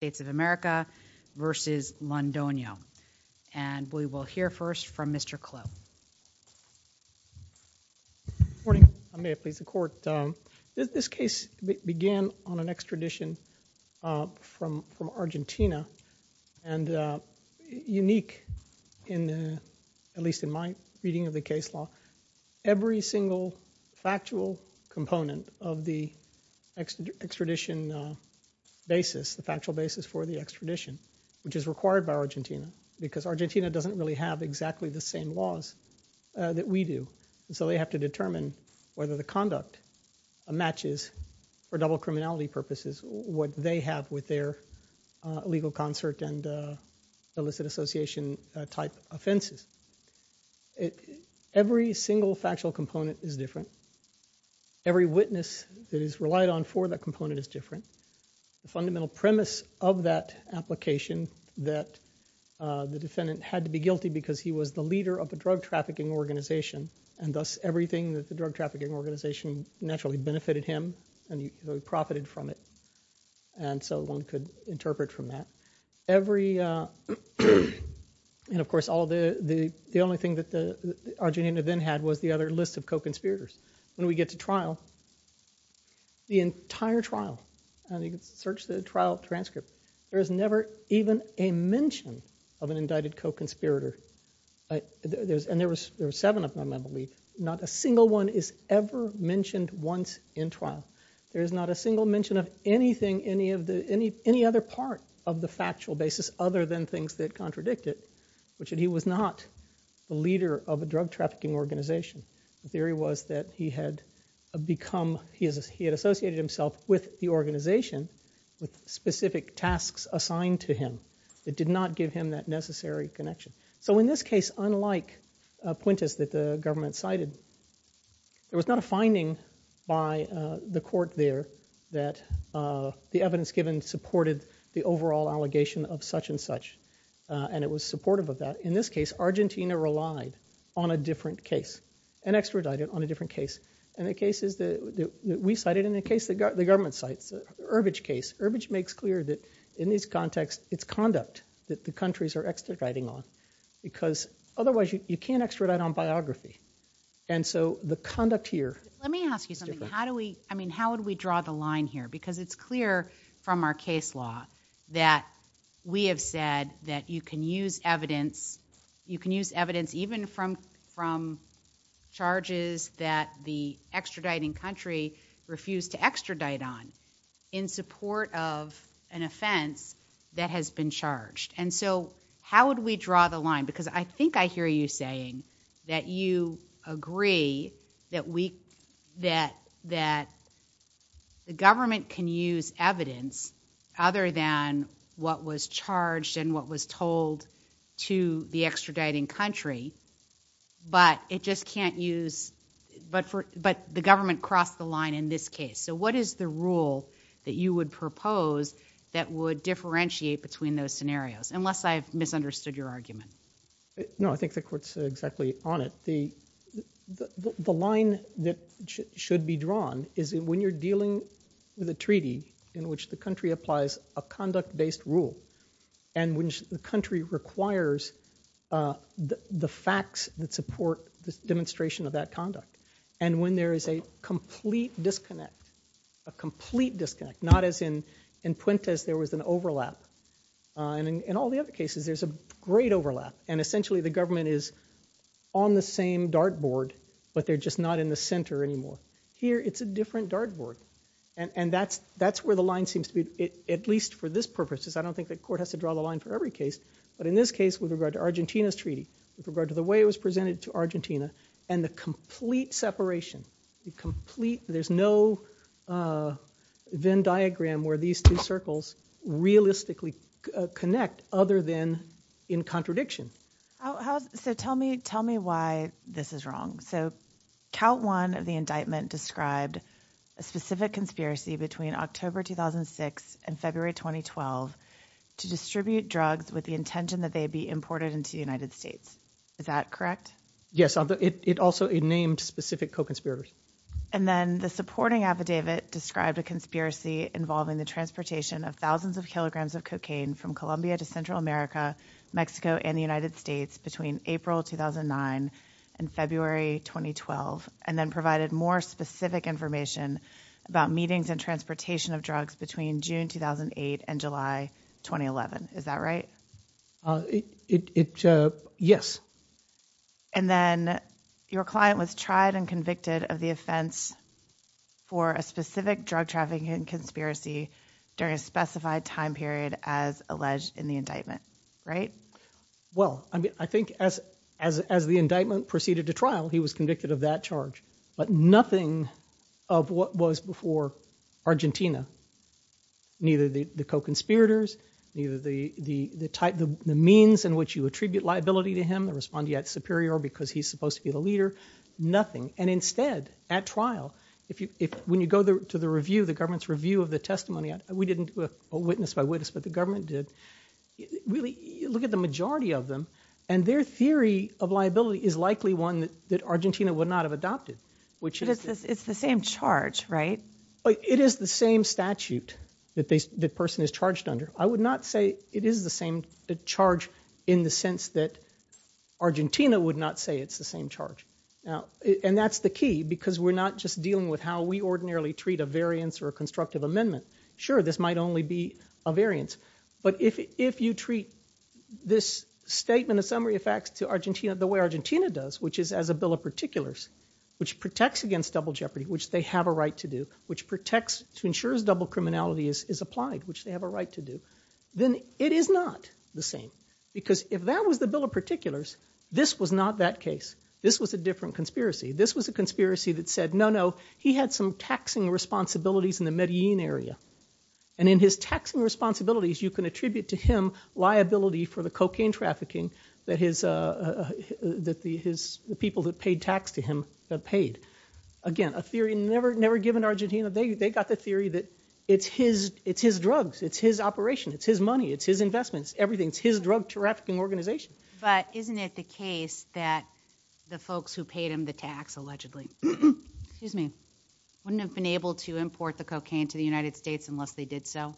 States of America v. Londono. And we will hear first from Mr. Clough. Good morning. I may have pleased the court. This case began on an extradition from Argentina and unique in the, at least in my reading of the case law, every single factual component of the extradition basis, the factual basis for the extradition which is required by Argentina because Argentina doesn't really have exactly the same laws that we do. So they have to determine whether the conduct matches for double criminality purposes what they have with their legal concert and illicit association type offenses. Every single factual component is different. Every witness that is relied on for that component is different. The fundamental premise of that application that the defendant had to be guilty because he was the leader of the drug trafficking organization and thus everything that the drug trafficking organization naturally benefited him and he profited from it. And so one could interpret from that. Every, and of course the only thing that the Argentinian then had was the other list of co-conspirators. When we get to trial, the entire trial, and you can search the trial transcript, there is never even a mention of an indicted co-conspirator. And there were seven of them I believe. Not a single one is ever mentioned once in trial. There is not a single mention of anything, any other part of the factual basis other than things that contradict it. Which he was not the leader of a drug trafficking organization. The theory was that he had become, he had associated himself with the organization with specific tasks assigned to him. It did not give him that necessary connection. So in this case unlike Puentes that the government cited, there was not a finding by the court there that the evidence given supported the overall allegation of such and such. And it was supportive of that. In this case, Argentina relied on a different case and extradited on a different case. And the cases that we cited and the case that the government cites, the Urbidge case, Urbidge makes clear that in this context it's conduct that the countries are extraditing on. Because otherwise you can't extradite on biography. And so the conduct here. Let me ask you something. How do we, I mean how would we draw the line here? Because it's clear from our case law that we have said that you can use evidence, you can use evidence even from charges that the extraditing country refused to extradite on in support of an offense that has been charged. And so how would we draw the line? Because I think I hear you saying that you agree that we, that the government can use evidence other than what was charged and what was told to the extraditing country. But it just can't use, but the government can't cross the line in this case. So what is the rule that you would propose that would differentiate between those scenarios? Unless I've misunderstood your argument. No, I think the court's exactly on it. The line that should be drawn is when you're dealing with a treaty in which the country applies a conduct-based rule and when the country requires the facts that support the demonstration of that conduct. And when there is a complete disconnect, a complete disconnect, not as in Puentes there was an overlap. And in all the other cases there's a great overlap. And essentially the government is on the same dartboard but they're just not in the center anymore. Here it's a different dartboard. And that's where the line seems to be, at least for this purpose, because I don't think the court has to draw the line for every case. But in this case with regard to Argentina's treaty, with regard to the way it was presented to Argentina, and the complete separation, there's no Venn diagram where these two circles realistically connect other than in contradiction. So tell me why this is wrong. So count one of the indictment described a specific conspiracy between October 2006 and February 2012 to distribute drugs with the intention that they be imported into the United States. Is that correct? Yes. It also named specific co-conspirators. And then the supporting affidavit described a conspiracy involving the transportation of thousands of kilograms of cocaine from Colombia to Central America, Mexico, and the United States between April 2009 and February 2012, and then provided more specific information about meetings and transportation of drugs between June 2008 and July 2011. Is that right? Yes. And then your client was tried and convicted of the offense for a specific drug trafficking conspiracy during a specified time period as alleged in the indictment, right? Well, I think as the indictment proceeded to trial, he was convicted of that charge. But nothing of what was before Argentina, neither the co-conspirators, neither the type, the means in which you attribute liability to him, the respondeat superior because he's supposed to be the leader, nothing. And instead, at trial, when you go to the review, the government's review of the testimony, we didn't do a witness by witness, but the government did, you look at the majority of them, and their theory of liability is likely one that Argentina would not have adopted. It's the same charge, right? It is the same statute that the person is charged under. I would not say it is the same charge in the sense that Argentina would not say it's the same charge. And that's the key because we're not just dealing with how we ordinarily treat a variance or a constructive amendment. Sure, this might only be a variance, but if you treat this statement of summary of facts to Argentina the way Argentina does, which is as a bill of particulars, which protects against double jeopardy, which they have a right to do, which protects to ensure double criminality is applied, which they have a right to do, then it is not the same. Because if that was the bill of particulars, this was not that case. This was a different conspiracy. This was a conspiracy that said, no, no, he had some taxing responsibilities in the Medellin area. And in his taxing responsibilities, you can attribute to him liability for the cocaine trafficking that the people that paid tax to him paid. Again, a theory never given to Argentina. They got the theory that it's his drugs, it's his operation, it's his money, it's his investments, everything. It's his drug trafficking organization. But isn't it the case that the folks who paid him the tax allegedly wouldn't have been able to import the cocaine to the United States unless they did so?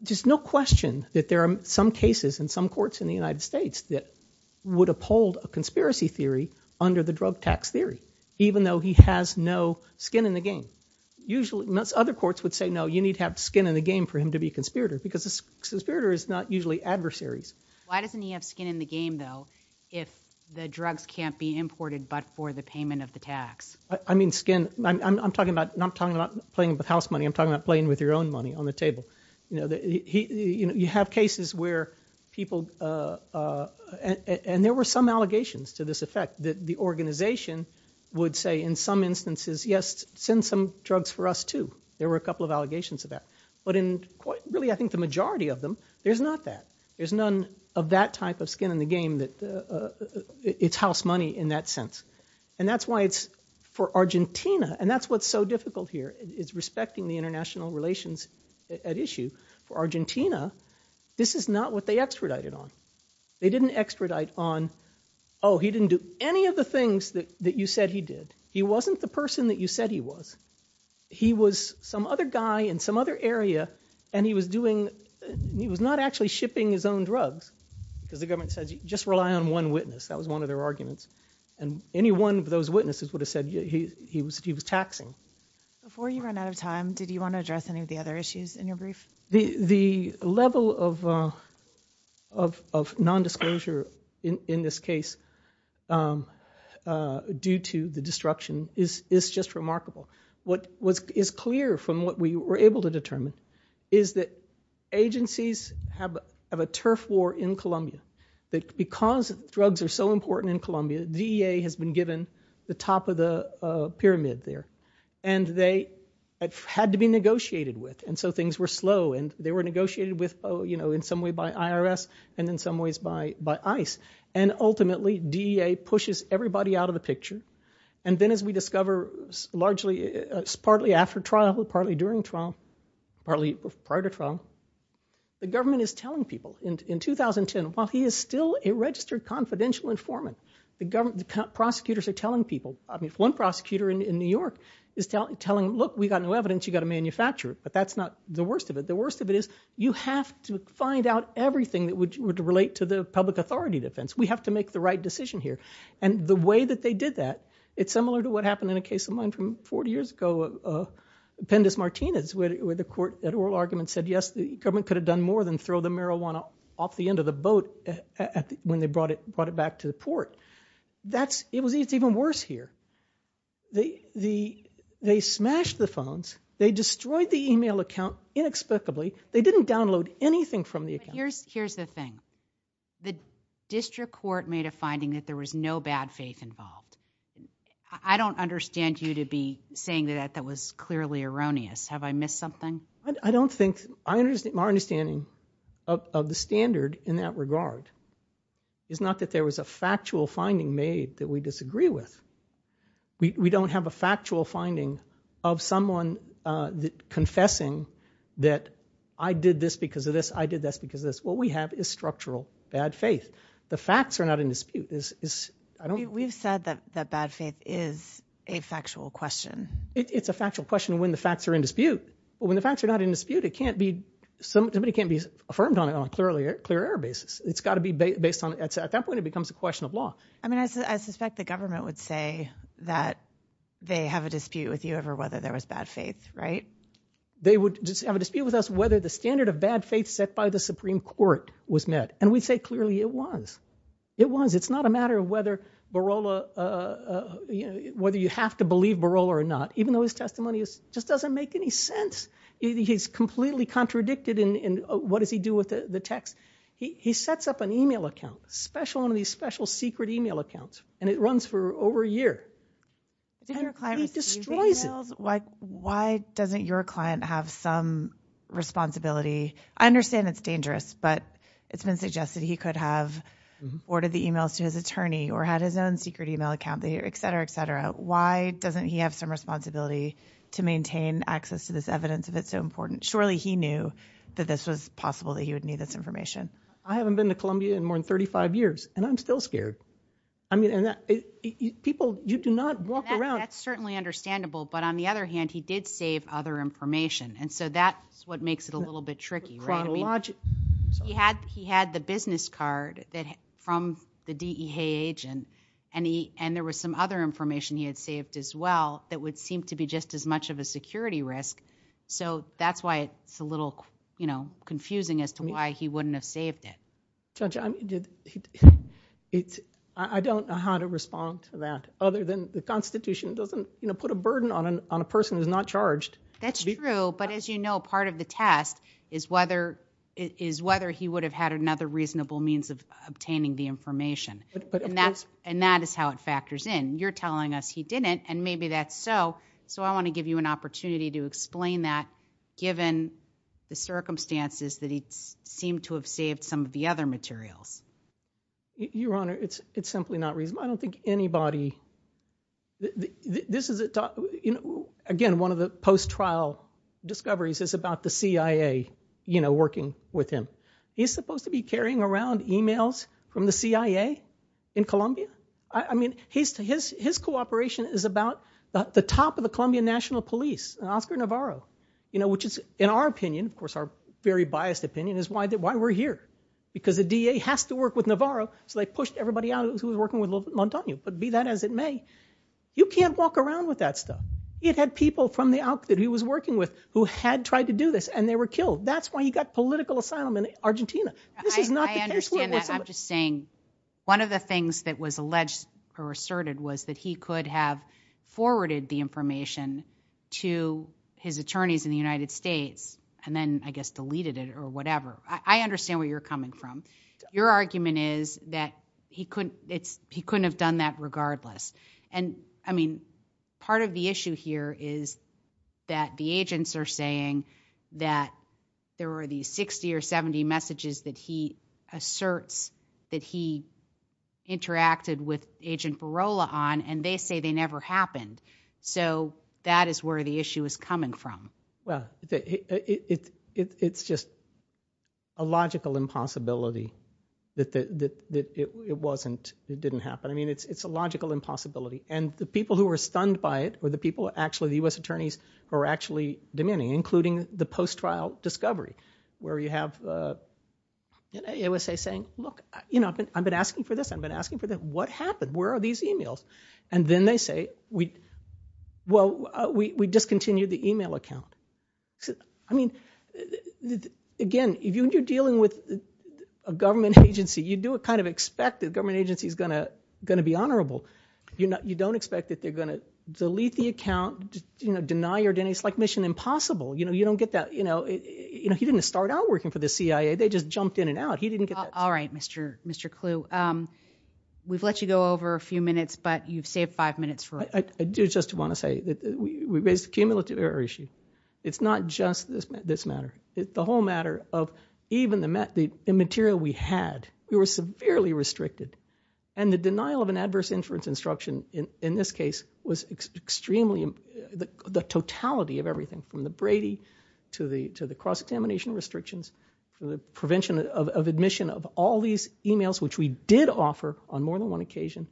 There's no question that there are some cases in some courts in the United States that would uphold a conspiracy theory under the drug tax theory, even though he has no skin in the game. Usually, most other courts would say, no, you need to have skin in the game for him to be a conspirator, because a conspirator is not usually adversaries. Why doesn't he have skin in the game, though, if the drugs can't be imported but for the payment of the tax? I mean, skin. I'm talking about not playing with house money. I'm talking about playing with your own money on the table. You know, you have cases where people – and there were some allegations to this effect that the organization would say in some instances, yes, send some drugs for us, too. There were a couple of allegations of that. But in really, I think, the majority of them, there's not that. There's none of that type of skin in the game that – it's house money in that sense. And that's why it's – for Argentina – and that's what's so difficult here, is respecting the international relations at issue. For Argentina, this is not what they extradited on. They didn't extradite on, oh, he didn't do any of the things that you said he did. He wasn't the person that you said he was. He was some other guy in some other area, and he was doing – he was not actually shipping his own drugs, because the government says, just rely on one witness. That was one of their arguments. And any one of those witnesses would have said he was taxing. Before you run out of time, did you want to address any of the other issues in your brief? The level of non-disclosure in this case due to the destruction is just remarkable. What was – is clear from what we were able to determine is that agencies have a turf war in Colombia, that because drugs are so important in Colombia, DEA has been given the top of the pyramid there. And they – it had to be negotiated with, and so things were slow. And they were negotiated with, you know, in some way by IRS and in some ways by ICE. And ultimately, DEA pushes everybody out of the picture. And then as we discover, largely – partly after trial, partly during trial, partly prior to trial, the government is telling people. In 2010, while he is still a registered confidential informant, the government – prosecutors are telling people – I mean, if one prosecutor in New York is telling, look, we've got no evidence, you've got to manufacture it. But that's not the worst of it. The worst of it is you have to find out everything that would relate to the public authority defense. We have to make the right decision here. And the way that they did that, it's similar to what happened in a case of mine from 40 years ago, Appendix Martinez, where the court – that oral argument said, yes, the government could have done more than throw the marijuana off the end of the boat when they brought it back to the port. That's – it was even worse here. They smashed the phones. They destroyed the email account inexplicably. They didn't download anything from the account. Here's the thing. The district court made a finding that there was no bad faith involved. I don't understand you to be saying that that was clearly erroneous. Have I missed something? I don't think – our understanding of the standard in that regard is not that there was a factual finding made that we disagree with. We don't have a factual finding of someone confessing that I did this because of this, I did this because of this. What we have is structural bad faith. The facts are not in dispute. We've said that bad faith is a factual question. It's a factual question when the facts are in dispute. When the facts are not in dispute, it can't be – somebody can't be affirmed on it on a clear error basis. It's got to be based on – at that point, it becomes a question of law. I mean, I suspect the government would say that they have a dispute with you over whether there was bad faith, right? They would have a dispute with us whether the standard of bad faith set by the Supreme Court was met, and we'd say clearly it was. It was. It's not a matter of whether Barola – whether you have to believe Barola or not, even though his testimony just doesn't make any sense. He's completely contradicted in what does he do with the text. He sets up an email account, special – one of these special secret email accounts, and it runs for over a year. Did your client receive the emails? Why doesn't your client have some responsibility? I understand it's dangerous, but it's his own secret email account, et cetera, et cetera. Why doesn't he have some responsibility to maintain access to this evidence if it's so important? Surely he knew that this was possible, that he would need this information. I haven't been to Colombia in more than 35 years, and I'm still scared. I mean – people – you do not walk around – That's certainly understandable, but on the other hand, he did save other information, and so that's what makes it a little bit tricky, right? Chronologically. He had the business card from the DEA agent, and there was some other information he had saved as well that would seem to be just as much of a security risk, so that's why it's a little confusing as to why he wouldn't have saved it. Judge, I don't know how to respond to that, other than the Constitution doesn't put a burden on a person who's not charged. That's true, but as you know, part of the test is whether he would have had another reasonable means of obtaining the information, and that is how it factors in. You're telling us he didn't, and maybe that's so, so I want to give you an opportunity to explain that given the circumstances that he seemed to have saved some of the other materials. Your Honor, it's simply not reasonable. I don't think anybody – this is – again, one of the post-trial discoveries is about the CIA working with him. He's supposed to be carrying around emails from the CIA in Colombia. I mean, his cooperation is about the top of the Colombian National Police, Oscar Navarro, which is, in our opinion – of course, our very biased opinion – is why we're here, because the DEA has to work with Navarro, so they pushed everybody out who was working with Montaño, but be that as it may, you can't walk around with that stuff. He had had people from the out – that he was working with who had tried to do this, and they were killed. That's why he got political asylum in Argentina. This is not the case where it was – I understand that. I'm just saying one of the things that was alleged or asserted was that he could have forwarded the information to his attorneys in the United States and then, I guess, deleted it or whatever. I understand where you're coming from. Your argument is that he couldn't have done that regardless. Part of the issue here is that the agents are saying that there were these 60 or 70 messages that he asserts that he interacted with Agent Barola on, and they say they never happened. That is where the issue is coming from. Well, it's just a logical impossibility that it wasn't – it didn't happen. I mean, it's a logical impossibility, and the people who were stunned by it were the people – actually, the U.S. attorneys who were actually demanding, including the post-trial discovery, where you have the USA saying, look, I've been asking for this, I've been asking for that. What happened? Where are these emails? Then they say, well, we discontinued the email account. I mean, again, if you're dealing with a government agency, you do kind of expect the government agency is going to be honorable. You don't expect that they're going to delete the account, deny your – it's like Mission Impossible. You don't get that – he didn't start out working for the CIA. They just jumped in and out. He didn't get that. All right, Mr. Clue. We've let you go over a few minutes, but you've saved five minutes for it. I do just want to say that we raised a cumulative error issue. It's not just this matter. The whole matter of even the material we had, we were severely restricted, and the denial of an adverse inference instruction in this case was extremely – the totality of everything from the Brady to the cross-examination restrictions, the prevention of admission of all these emails, which we did offer on more than one occasion,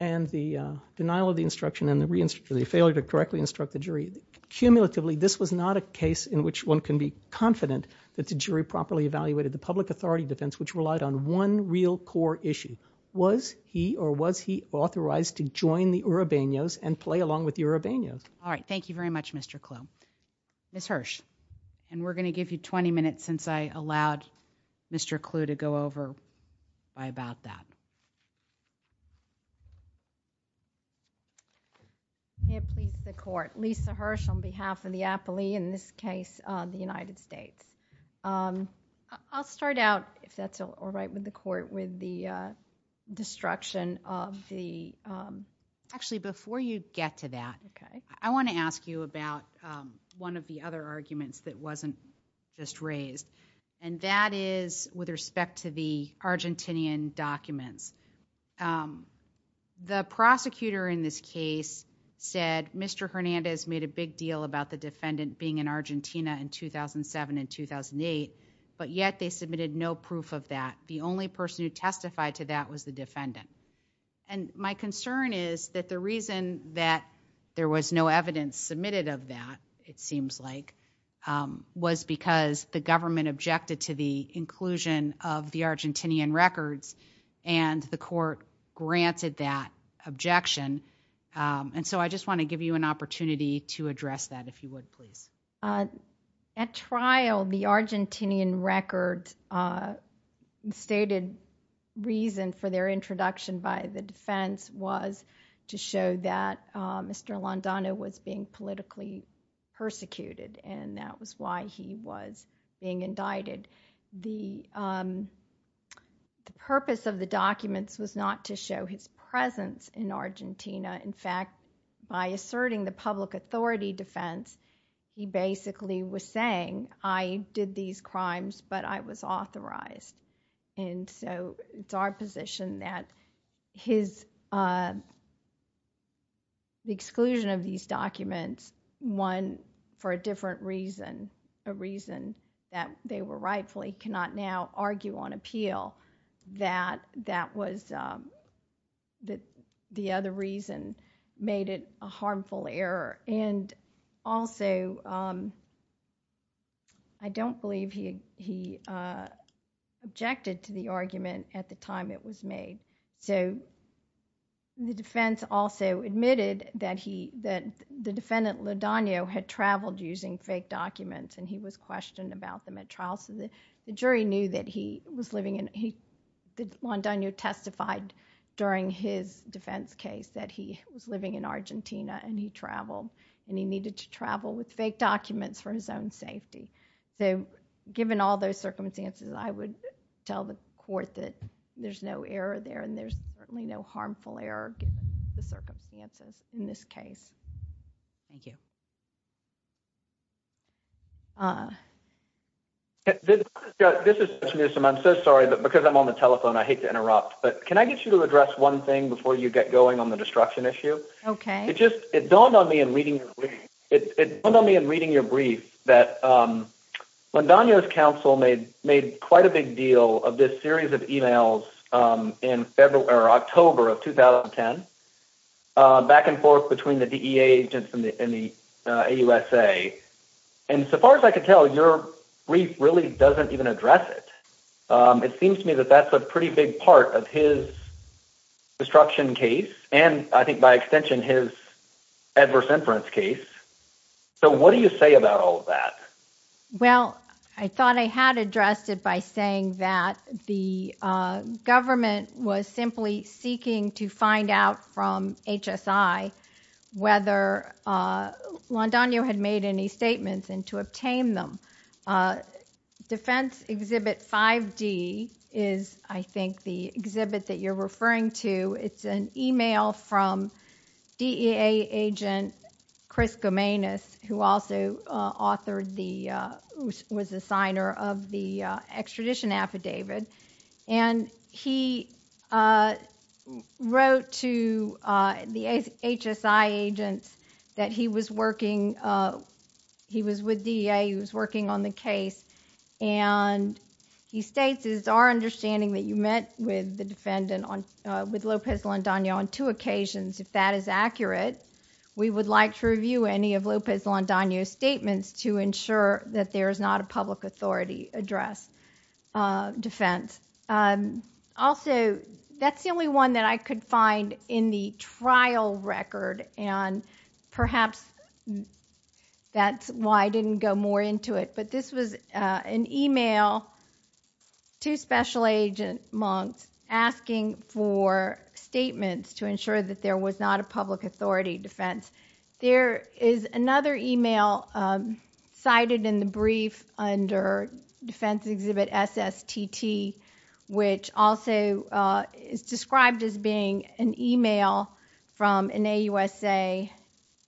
and the denial of the instruction and the failure to correctly instruct the jury. Cumulatively, this was not a case in which one can be confident that the jury properly evaluated the public authority defense, which relied on one real core issue. Was he or was he authorized to join the Uribeños and play along with the Uribeños? All right. Thank you very much, Mr. Clue. Ms. Hirsch. We're going to give you 20 minutes since I allowed Mr. Clue to go over why about that. May it please the court. Lisa Hirsch on behalf of the Appley, in this case, the United States. I'll start out, if that's all right with the court, with the destruction of the... Actually, before you get to that, I want to ask you about one of the other arguments that wasn't just raised, and that is with respect to the Argentinian documents. The prosecutor in this case said, Mr. Hernandez made a big deal about the defendant being in Argentina in 2007 and 2008, but yet they submitted no proof of that. The only person who testified to that was the defendant. My concern is that the reason that there was no evidence submitted of that, it seems like, was because the government objected to the inclusion of the Argentinian records, and the court granted that objection. I just want to give you an opportunity to address that, if you would, please. At trial, the Argentinian records stated reason for their introduction by the defense was to show that Mr. Landano was being politically persecuted, and that was why he was being indicted. The purpose of the documents was not to show his presence in Argentina. In fact, by asserting the public authority defense, he basically was saying, I did these crimes, but I was authorized. It's our position that the exclusion of these documents, one, for a different reason, a reason that they were rightfully, cannot now argue on appeal, that the other reason made it a harmful error. Also, I don't believe he was being politically objected to the argument at the time it was made. The defense also admitted that the defendant Landano had traveled using fake documents, and he was questioned about them at trial. The jury knew that he was living in... Landano testified during his defense case that he was living in Argentina, and he traveled, and he needed to travel with fake documents for his own safety. So given all those circumstances, I would tell the court that there's no error there, and there's certainly no harmful error given the circumstances in this case. Thank you. This is Mr. Newsom. I'm so sorry, but because I'm on the telephone, I hate to interrupt, but can I get you to address one thing before you get going on the destruction issue? Okay. It dawned on me in reading your brief that Landano's counsel made quite a big deal of this series of emails in October of 2010, back and forth between the DEA agents and the AUSA, and so far as I could tell, your brief really doesn't even address it. It seems to me that that's a pretty big part of his destruction case, and I think by extension, his adverse inference case. So what do you say about all of that? Well, I thought I had addressed it by saying that the government was simply seeking to find out from HSI whether Landano had made any statements and to obtain them. Defense Exhibit 5D is, I think, the exhibit that you're referring to. It's an email from DEA agent Chris Gomenas, who also was the signer of the extradition affidavit, and he wrote to the HSI agents that he was working... he was with DEA. He was working on the case, and he states, it is our understanding that you met with the defendant, with Lopez-Landano, on two occasions. If that is accurate, we would like to review any of Lopez-Landano's statements to ensure that there is not a public authority address defense. Also, that's the only one that I could find in the trial record, and perhaps that's why I didn't go more into detail. Two special agent monks asking for statements to ensure that there was not a public authority defense. There is another email cited in the brief under Defense Exhibit SSTT, which also is described as being an email from NAUSA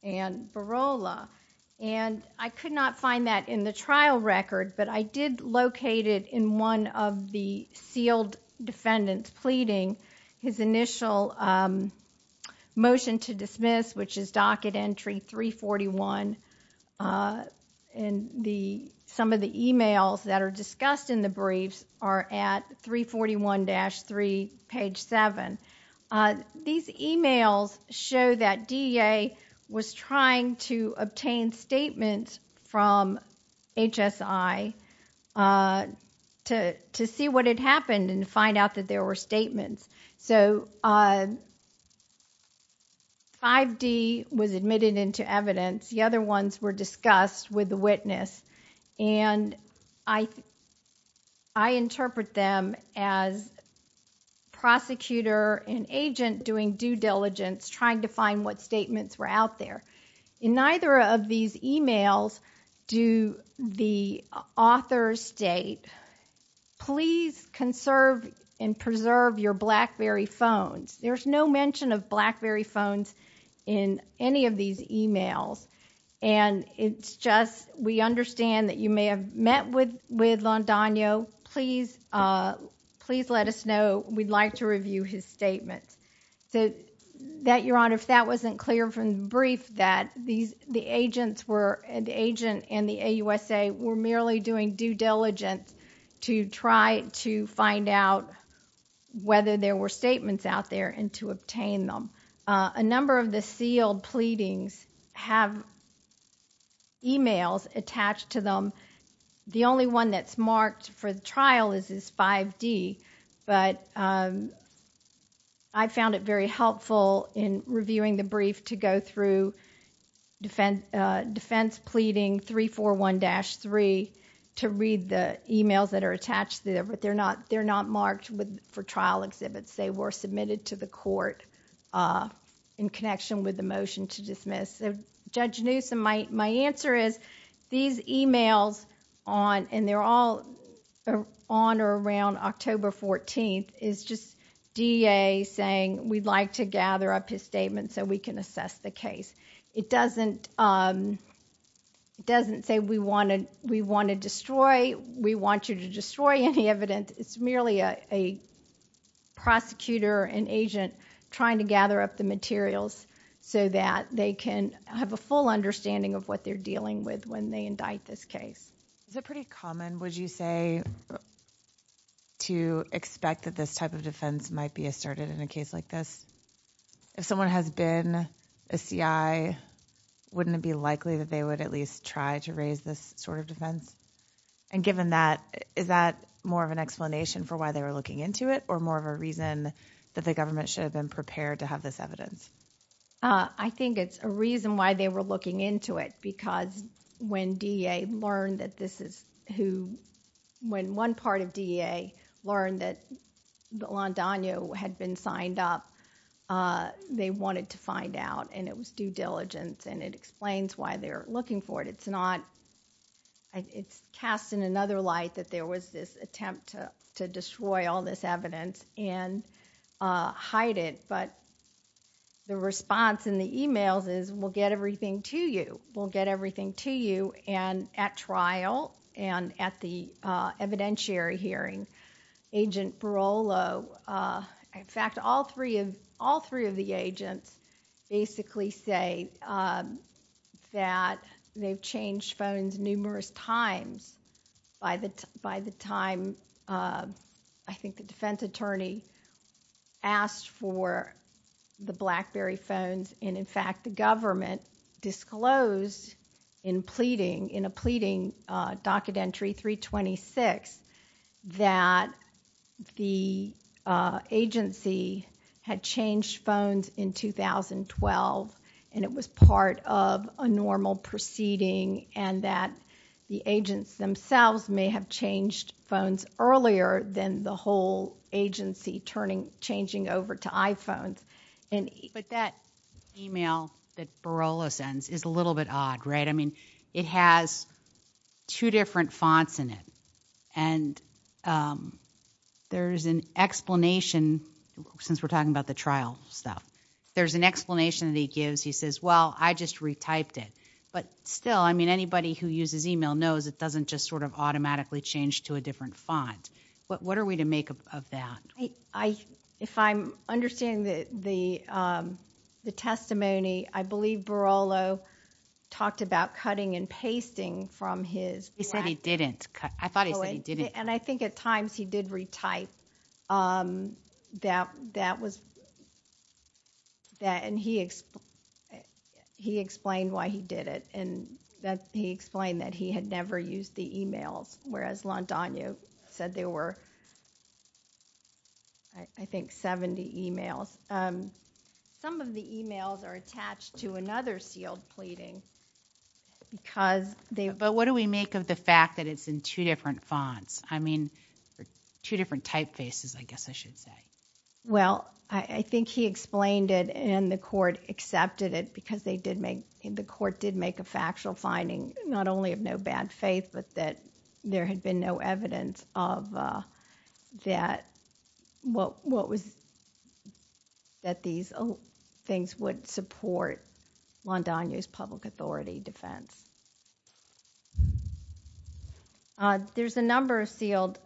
and Barola. I could not find that in the trial record, but I did locate it in one of the sealed defendants pleading. His initial motion to dismiss, which is docket entry 341, and some of the emails that are discussed in the briefs are at 341-3, page 7. These emails show that DEA was trying to get HSI to see what had happened and find out that there were statements. 5D was admitted into evidence. The other ones were discussed with the witness. I interpret them as prosecutor and agent doing due diligence, trying to find what statements were out there. In neither of these emails do the authors state, please conserve and preserve your BlackBerry phones. There's no mention of BlackBerry phones in any of these emails. It's just we understand that you may have met with Londonio. Please let us know. We'd like to review his statements. If that wasn't clear from the brief, that the agent and the AUSA were merely doing due diligence to try to find out whether there were statements out there and to obtain them. A number of the sealed pleadings have emails attached to them. The only one that's marked for the trial is 5D. I found it very helpful in reviewing the brief to go through defense pleading 341-3 to read the emails that are attached. They're not marked for trial exhibits. They were submitted to the court in connection with the motion to dismiss. Judge Newsom, my answer is these emails, and they're all on or around October 14th, is just DEA saying we'd like to gather up his statements so we can assess the case. It doesn't say we want to destroy any evidence. It's merely a prosecutor and agent trying to gather up the materials so that they can have a full understanding of what they're dealing with when they indict this case. Is it pretty common, would you say, to expect that this type of defense might be asserted in a case like this? If someone has been a CI, wouldn't it be likely that they would at least try to raise this sort of defense? Given that, is that more of an explanation for why they were looking into it or more of a reason that the government should have been prepared to have this evidence? I think it's a reason why they were looking into it because when DEA learned that this is... when one part of DEA learned that Landaño had been signed up, they wanted to find out, and it was due diligence. It explains why they're looking for it. It's not... it's cast in another light that there was this attempt to destroy all this evidence and hide it, but the response in the emails is, we'll get everything to you. We'll get everything to you and at trial and at the evidentiary hearing. Agent Barolo... in fact, all three of the agents basically say that they've changed phones numerous times by the time, I think the defense attorney asked for the BlackBerry phones. In fact, the government disclosed in a pleading docket entry 326 that the agency had changed phones in 2012 and it was part of a normal proceeding and that the agents themselves may have changed phones earlier than the whole agency turning... changing over to iPhones. But that email that Barolo sends is a little bit odd, right? I mean, it has two different fonts in it and there's an explanation... since we're talking about the trial stuff, there's an explanation that he gives. He says, well, I just retyped it, but still, I mean, anybody who uses email knows it doesn't just sort of automatically change to a different font. What are we to make of that? If I'm understanding the testimony, I believe Barolo talked about cutting and pasting from his... He said he didn't. I thought he said he didn't. And I think at times he did retype that was... and he explained why he did it and that he explained that he had never used the emails, whereas Landaño said there were, I think, 70 emails. Some of the emails are attached to another sealed pleading because they... But what do we make of the fact that it's in two different fonts? I mean, two different typefaces, I guess I should say. Well, I think he explained it and the court accepted it because they did make... the court did make the decision not only of no bad faith, but that there had been no evidence of what was... that these things would support Landaño's public authority defense. There's a number of sealed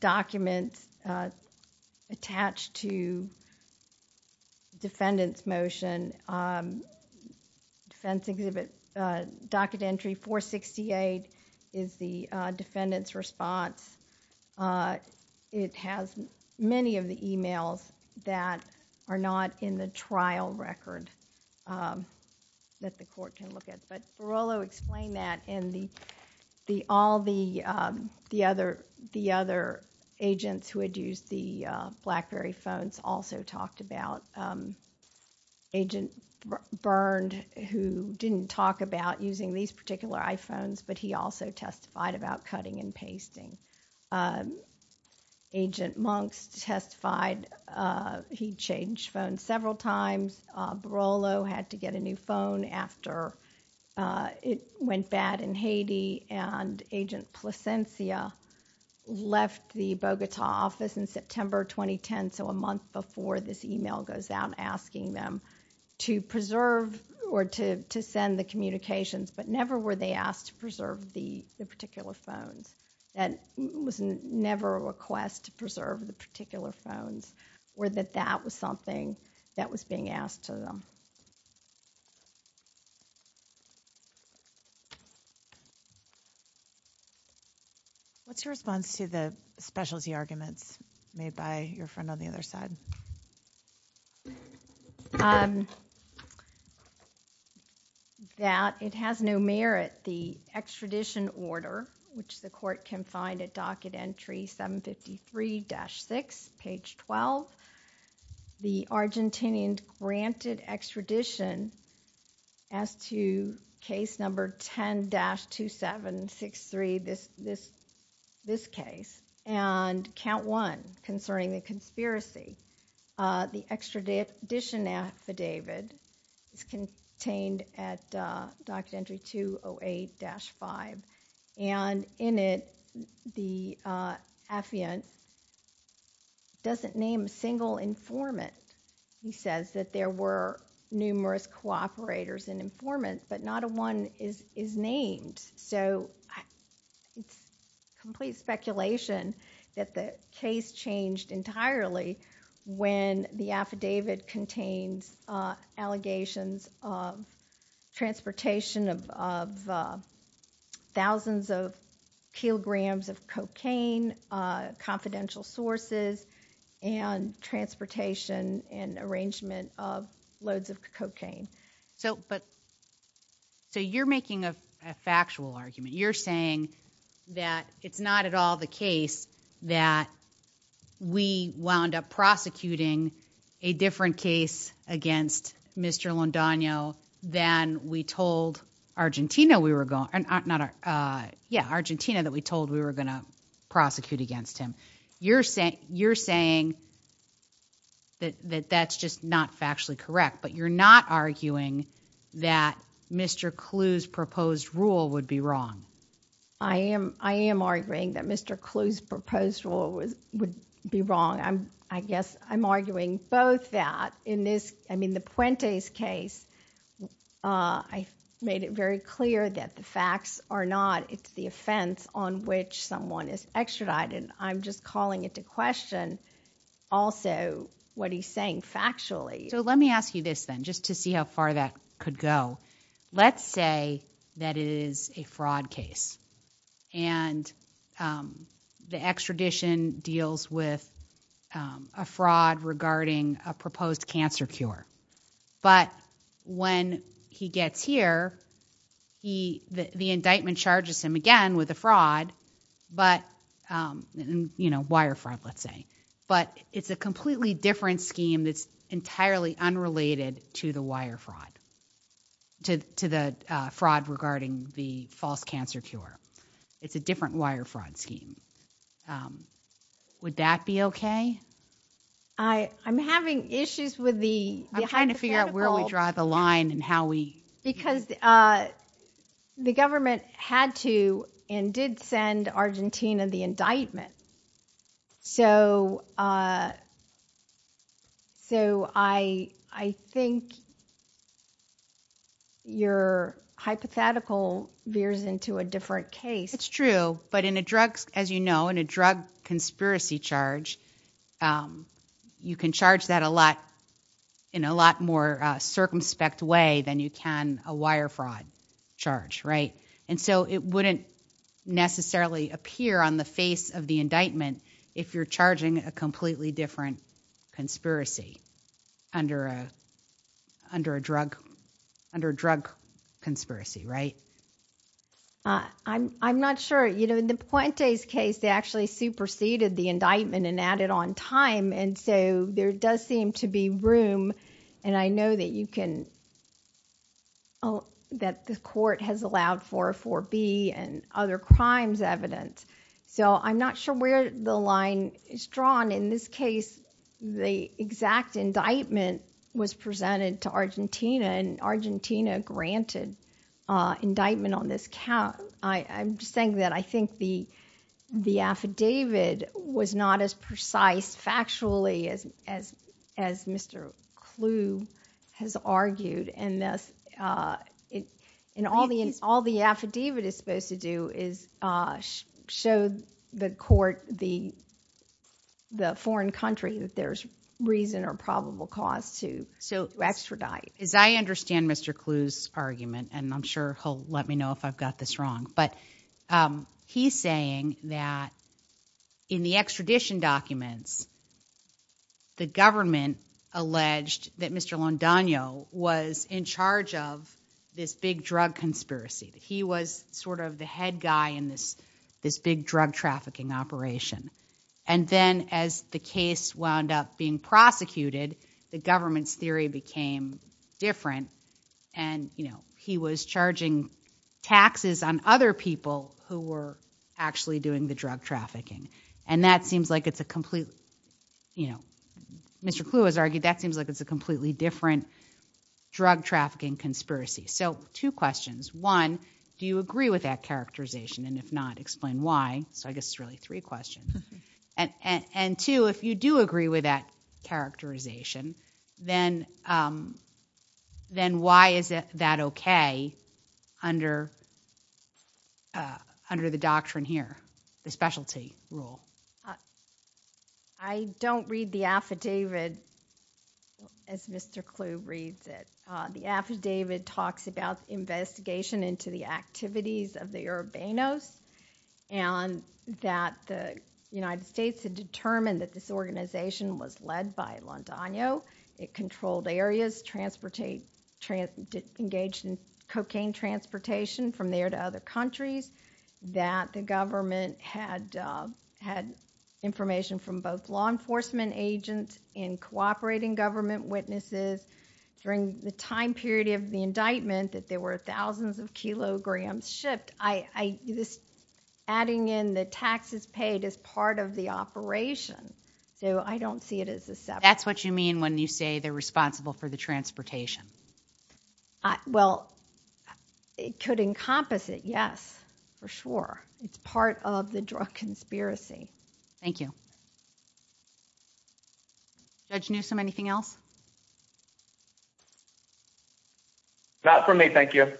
documents attached to the defendant's motion, defense exhibit docket entry 468 is the defendant's response. It has many of the emails that are not in the trial record that the court can look at. But Barolo explained that and all the other agents who had used the BlackBerry phones also talked about. Agent Byrne, who didn't talk about using these particular iPhones, but he also testified about cutting and pasting. Agent Monks testified he changed phones several times. Barolo had to get a new phone after it went bad in Haiti. And Agent Plascencia left the Bogota office in September 2010, so a month before this email goes out asking them to preserve or to send the communications, but never were they asked to preserve the particular phones. That was never a request to preserve the particular phones, or that that was something that was being asked of them. What's your response to the specialty arguments made by your friend on the other side? That it has no merit the extradition order, which the court can find at docket entry 753-6 page 12. The Argentinian granted extradition as to case number 10-2763, this case, and count one concerning the conspiracy. The extradition affidavit is contained at docket entry 208-5 and in it the affiant doesn't name a single informant. He says that there were numerous cooperators and informants, but not one is named. So it's complete speculation that the case changed entirely when the affidavit contains allegations of transportation of that particular phone, thousands of kilograms of cocaine, confidential sources, and transportation and arrangement of loads of cocaine. So you're making a factual argument. You're saying that it's not at all the case that we wound up prosecuting a different case against Mr. Londano than we told Argentina we were going to prosecute against him. You're saying that that's just not factually correct, but you're not arguing that Mr. Clu's proposed rule would be wrong. I am arguing that Mr. Clu's proposed rule would be wrong. I guess I'm arguing both that. In the Puente's case, I made it very clear that the facts are not. It's the offense on which someone is extradited. I'm just calling into question also what he's saying factually. Let me ask you this then, just to see how far that could go. Let's say that it is a fraud case and the extradition deals with a fraud regarding a proposed campaign, and it's a false cancer cure. But when he gets here, the indictment charges him again with a fraud, wire fraud let's say. But it's a completely different scheme that's entirely unrelated to the wire fraud, to the fraud regarding the false cancer cure. It's a different wire fraud scheme. Would that be okay? I'm having issues with the hypothetical. I'm trying to figure out where we draw the line and how we... Because the government had to and did send Argentina the indictment. So I think your hypothetical veers into a different case. It's true. But in a drug, as you know, in a drug conspiracy charge, you can charge that a lot in a lot more circumspect way than you can a wire fraud charge. And so it wouldn't necessarily appear on the face of the indictment if you're charging a completely different conspiracy under a drug conspiracy. Right? I'm not sure. In the Puente's case, they actually superseded the indictment and added on time. And so there does seem to be room, and I know that you can... That the court has allowed for a 4B and other crimes evidence. So I'm not sure where the line is drawn. In this case, the exact indictment was presented to Argentina, and Argentina granted a 4B. Indictment on this count... I'm just saying that I think the affidavit was not as precise factually as Mr. Clu has argued. And all the affidavit is supposed to do is show the court, the foreign country, that there's reason or probable cause to extradite. As I understand Mr. Clu's argument, and I'm sure he'll let me know if I've got this wrong, but he's saying that in the extradition documents, the government alleged that Mr. Londonio was in charge of this big drug conspiracy. He was sort of the head guy in this big drug trafficking operation. And then as the case wound up being prosecuted, the government's position became different, and he was charging taxes on other people who were actually doing the drug trafficking. And that seems like it's a completely... Mr. Clu has argued that seems like it's a completely different drug trafficking conspiracy. So two questions. One, do you agree with that characterization? And if not, explain why. So I guess it's really three questions. And two, if you do agree with that characterization, then why is that okay under the doctrine here, the specialty rule? I don't read the affidavit as Mr. Clu reads it. The affidavit talks about investigation into the activities of the Urbanos, and that the United States had determined that this organization was led by Londonio. It controlled areas, engaged in cocaine transportation from there to other countries, that the government had information from both law enforcement agents and cooperating government witnesses. During the time period of the indictment, that there were thousands of kilograms shipped, adding in the taxes paid is part of the operation. So I don't see it as a separate... That's what you mean when you say they're responsible for the transportation. Well, it could encompass it, yes, for sure. It's part of the drug conspiracy. Thank you. Judge Newsom, anything else? Not for me, thank you.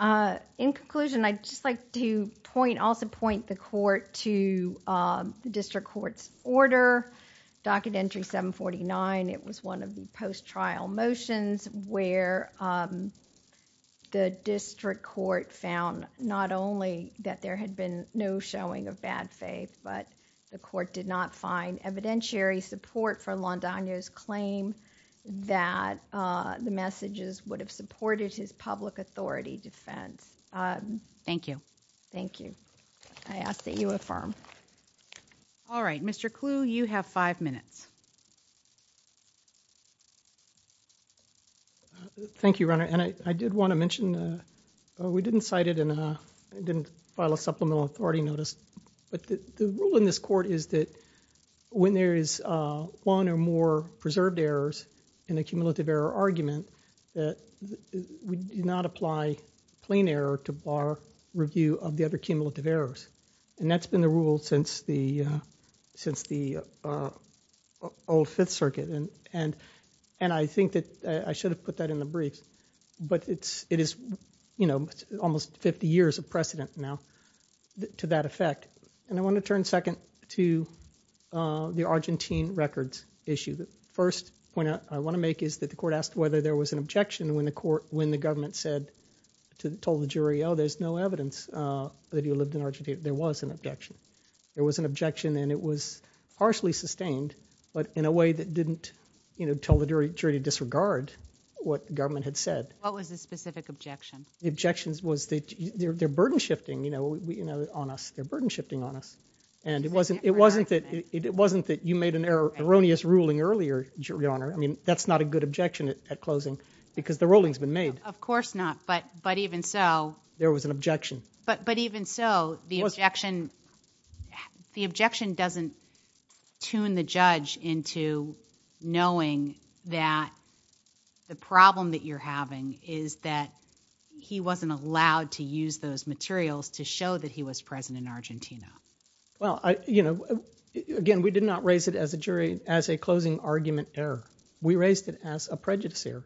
In conclusion, I'd just like to point, also point the court to the district court's order, docket entry 749. It was one of the post-trial motions where the district court found not only that there had been no showing of bad faith, but the court did not find evidentiary support for Londonio's claim that the messages would have supported his public authority defense. Thank you. Thank you. I ask that you affirm. All right, Mr. Clue, you have five minutes. Thank you, Your Honor, and I did want to mention, we didn't cite it in a, didn't file a supplemental authority notice, but the rule in this court is that when there is one or more preserved errors in a cumulative error argument, that we do not apply plain error to bar review of the other cumulative errors, and that's been the rule since the old Fifth Circuit, and I think that I should have put that in the briefs, but it is almost 50 years of precedent now to that effect, and I want to turn second to the Argentine records issue. The first point I want to make is that the court asked whether there was an objection when the court, when the government said, told the jury, oh, there's no evidence that he lived in Argentina. There was an objection. There was an objection, and it was partially sustained, but in a way that didn't, you know, tell the jury to disregard what the government had said. What was the specific objection? The objection was that they're burden shifting, you know, on us. They're burden shifting on us, and it wasn't that you made an erroneous ruling earlier, Your Honor. I mean, that's not a good objection at closing because the ruling's been made. Of course not, but even so. There was an objection. But even so, the objection doesn't tune the judge into knowing that the problem that you're having is that he wasn't allowed to use those materials to show that he was present in Argentina. Well, you know, again, we did not raise it as a jury, as a closing argument error. We raised it as a prejudice error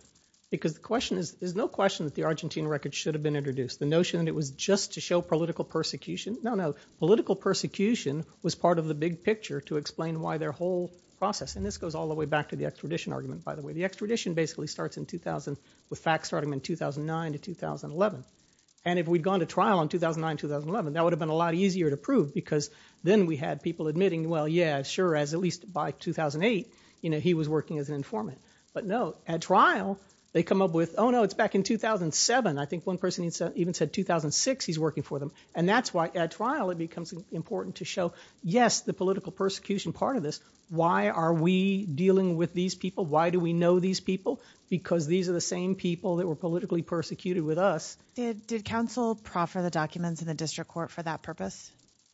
because the question is, there's no question that the Argentine records should have been introduced. The notion that it was just to show political persecution, no, no, political persecution was part of the big picture to explain why their whole process, and this goes all the way back to the extradition argument, by the way. The extradition basically starts in 2000, with facts starting in 2009 to 2011. And if we'd gone to trial in 2009, 2011, that would have been a lot easier to prove because then we had people admitting, well, yeah, sure, as at least by 2008, you know, he was working as an informant. But no, at trial, they come up with, oh no, it's back in 2007. I think one person even said 2006 he's working for them, and that's why at trial it becomes important to show, yes, the political persecution part of this. Why are we dealing with these people? Why do we know these people? Because these are the same people that were politically persecuted with us. Did counsel proffer the documents in the district court for that purpose?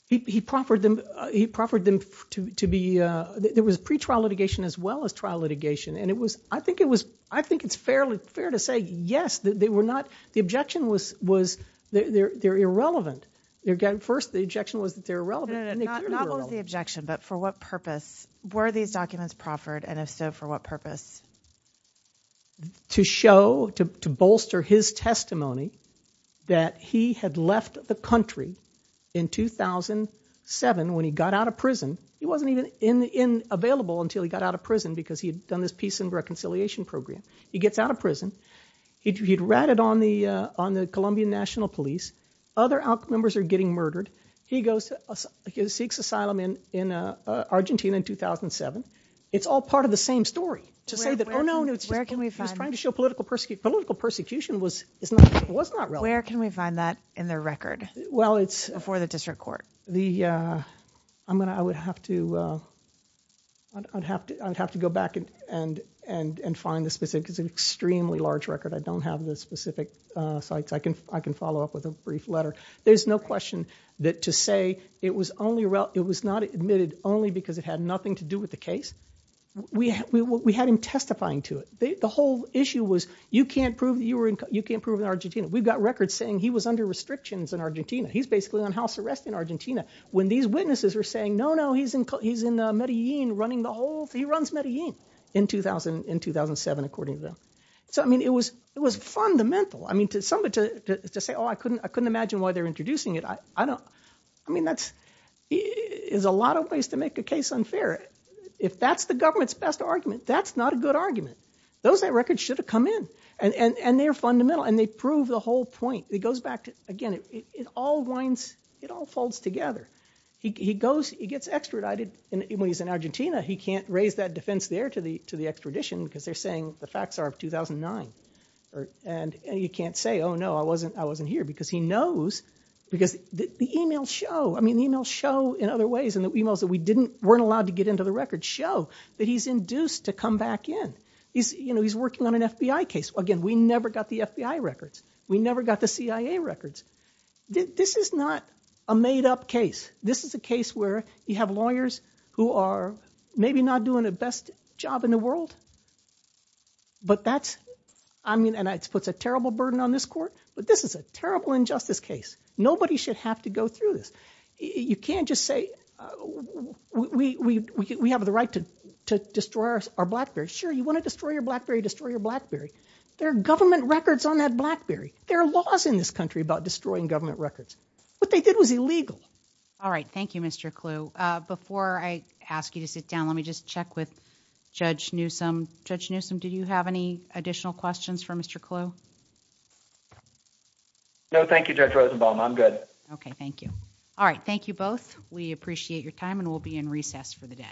He proffered them to be, there was pre-trial litigation as well as trial litigation, and it was, I think it was, I think it's fairly fair to say, yes, they were not, the objection was they're irrelevant. Again, first the objection was that they're irrelevant, and they clearly weren't. Not only the objection, but for what purpose were these documents proffered, and if so, for what purpose? To show, to bolster his testimony that he had left the country in 2007 when he got out of prison. He wasn't even available until he got out of prison because he had done this peace and reconciliation program. He gets out of prison. He'd ratted on the Colombian National Police. Other ALC members are getting murdered. He goes to, he seeks asylum in Argentina in 2007. It's all part of the same story to say that, oh, no, he was trying to show political persecution. Political persecution was not relevant. Where can we find that in the record before the district court? The, I'm going to, I would have to, I'd have to go back and find the specific, because it's an extremely large record. I don't have the specific sites. I can follow up with a brief letter. But there's no question that to say it was only, it was not admitted only because it had nothing to do with the case. We had him testifying to it. The whole issue was you can't prove you were in, you can't prove in Argentina. We've got records saying he was under restrictions in Argentina. He's basically on house arrest in Argentina. When these witnesses were saying, no, no, he's in Medellin running the whole, he runs Medellin in 2000, in 2007, according to them. So, I mean, it was, it was fundamental. I couldn't, I couldn't imagine why they're introducing it. I don't, I mean, that's, is a lot of ways to make a case unfair. If that's the government's best argument, that's not a good argument. Those records should have come in and they're fundamental and they prove the whole point. It goes back to, again, it all winds, it all folds together. He goes, he gets extradited and when he's in Argentina, he can't raise that defense there to the, to the extradition because they're saying the facts are of 2009. And you can't say, oh no, I wasn't, I wasn't here because he knows, because the email show, I mean, the email show in other ways and the emails that we didn't, weren't allowed to get into the record show that he's induced to come back in. He's, you know, he's working on an FBI case. Again, we never got the FBI records. We never got the CIA records. This is not a made up case. This is a case where you have lawyers who are maybe not doing the best job in the world, but that's, I mean, and it's puts a terrible burden on this court, but this is a terrible injustice case. Nobody should have to go through this. You can't just say, uh, we, we, we, we have the right to, to destroy our, our Blackberry. Sure. You want to destroy your Blackberry, destroy your Blackberry. There are government records on that Blackberry. There are laws in this country about destroying government records. What they did was illegal. All right. Thank you, Mr. Clue. Uh, before I ask you to sit down, let me just check with you, Mr. Clue. No, thank you, Judge Rosenbaum. I'm good. Okay. Thank you. All right. Thank you both. We appreciate your time and we'll be in recess for the day.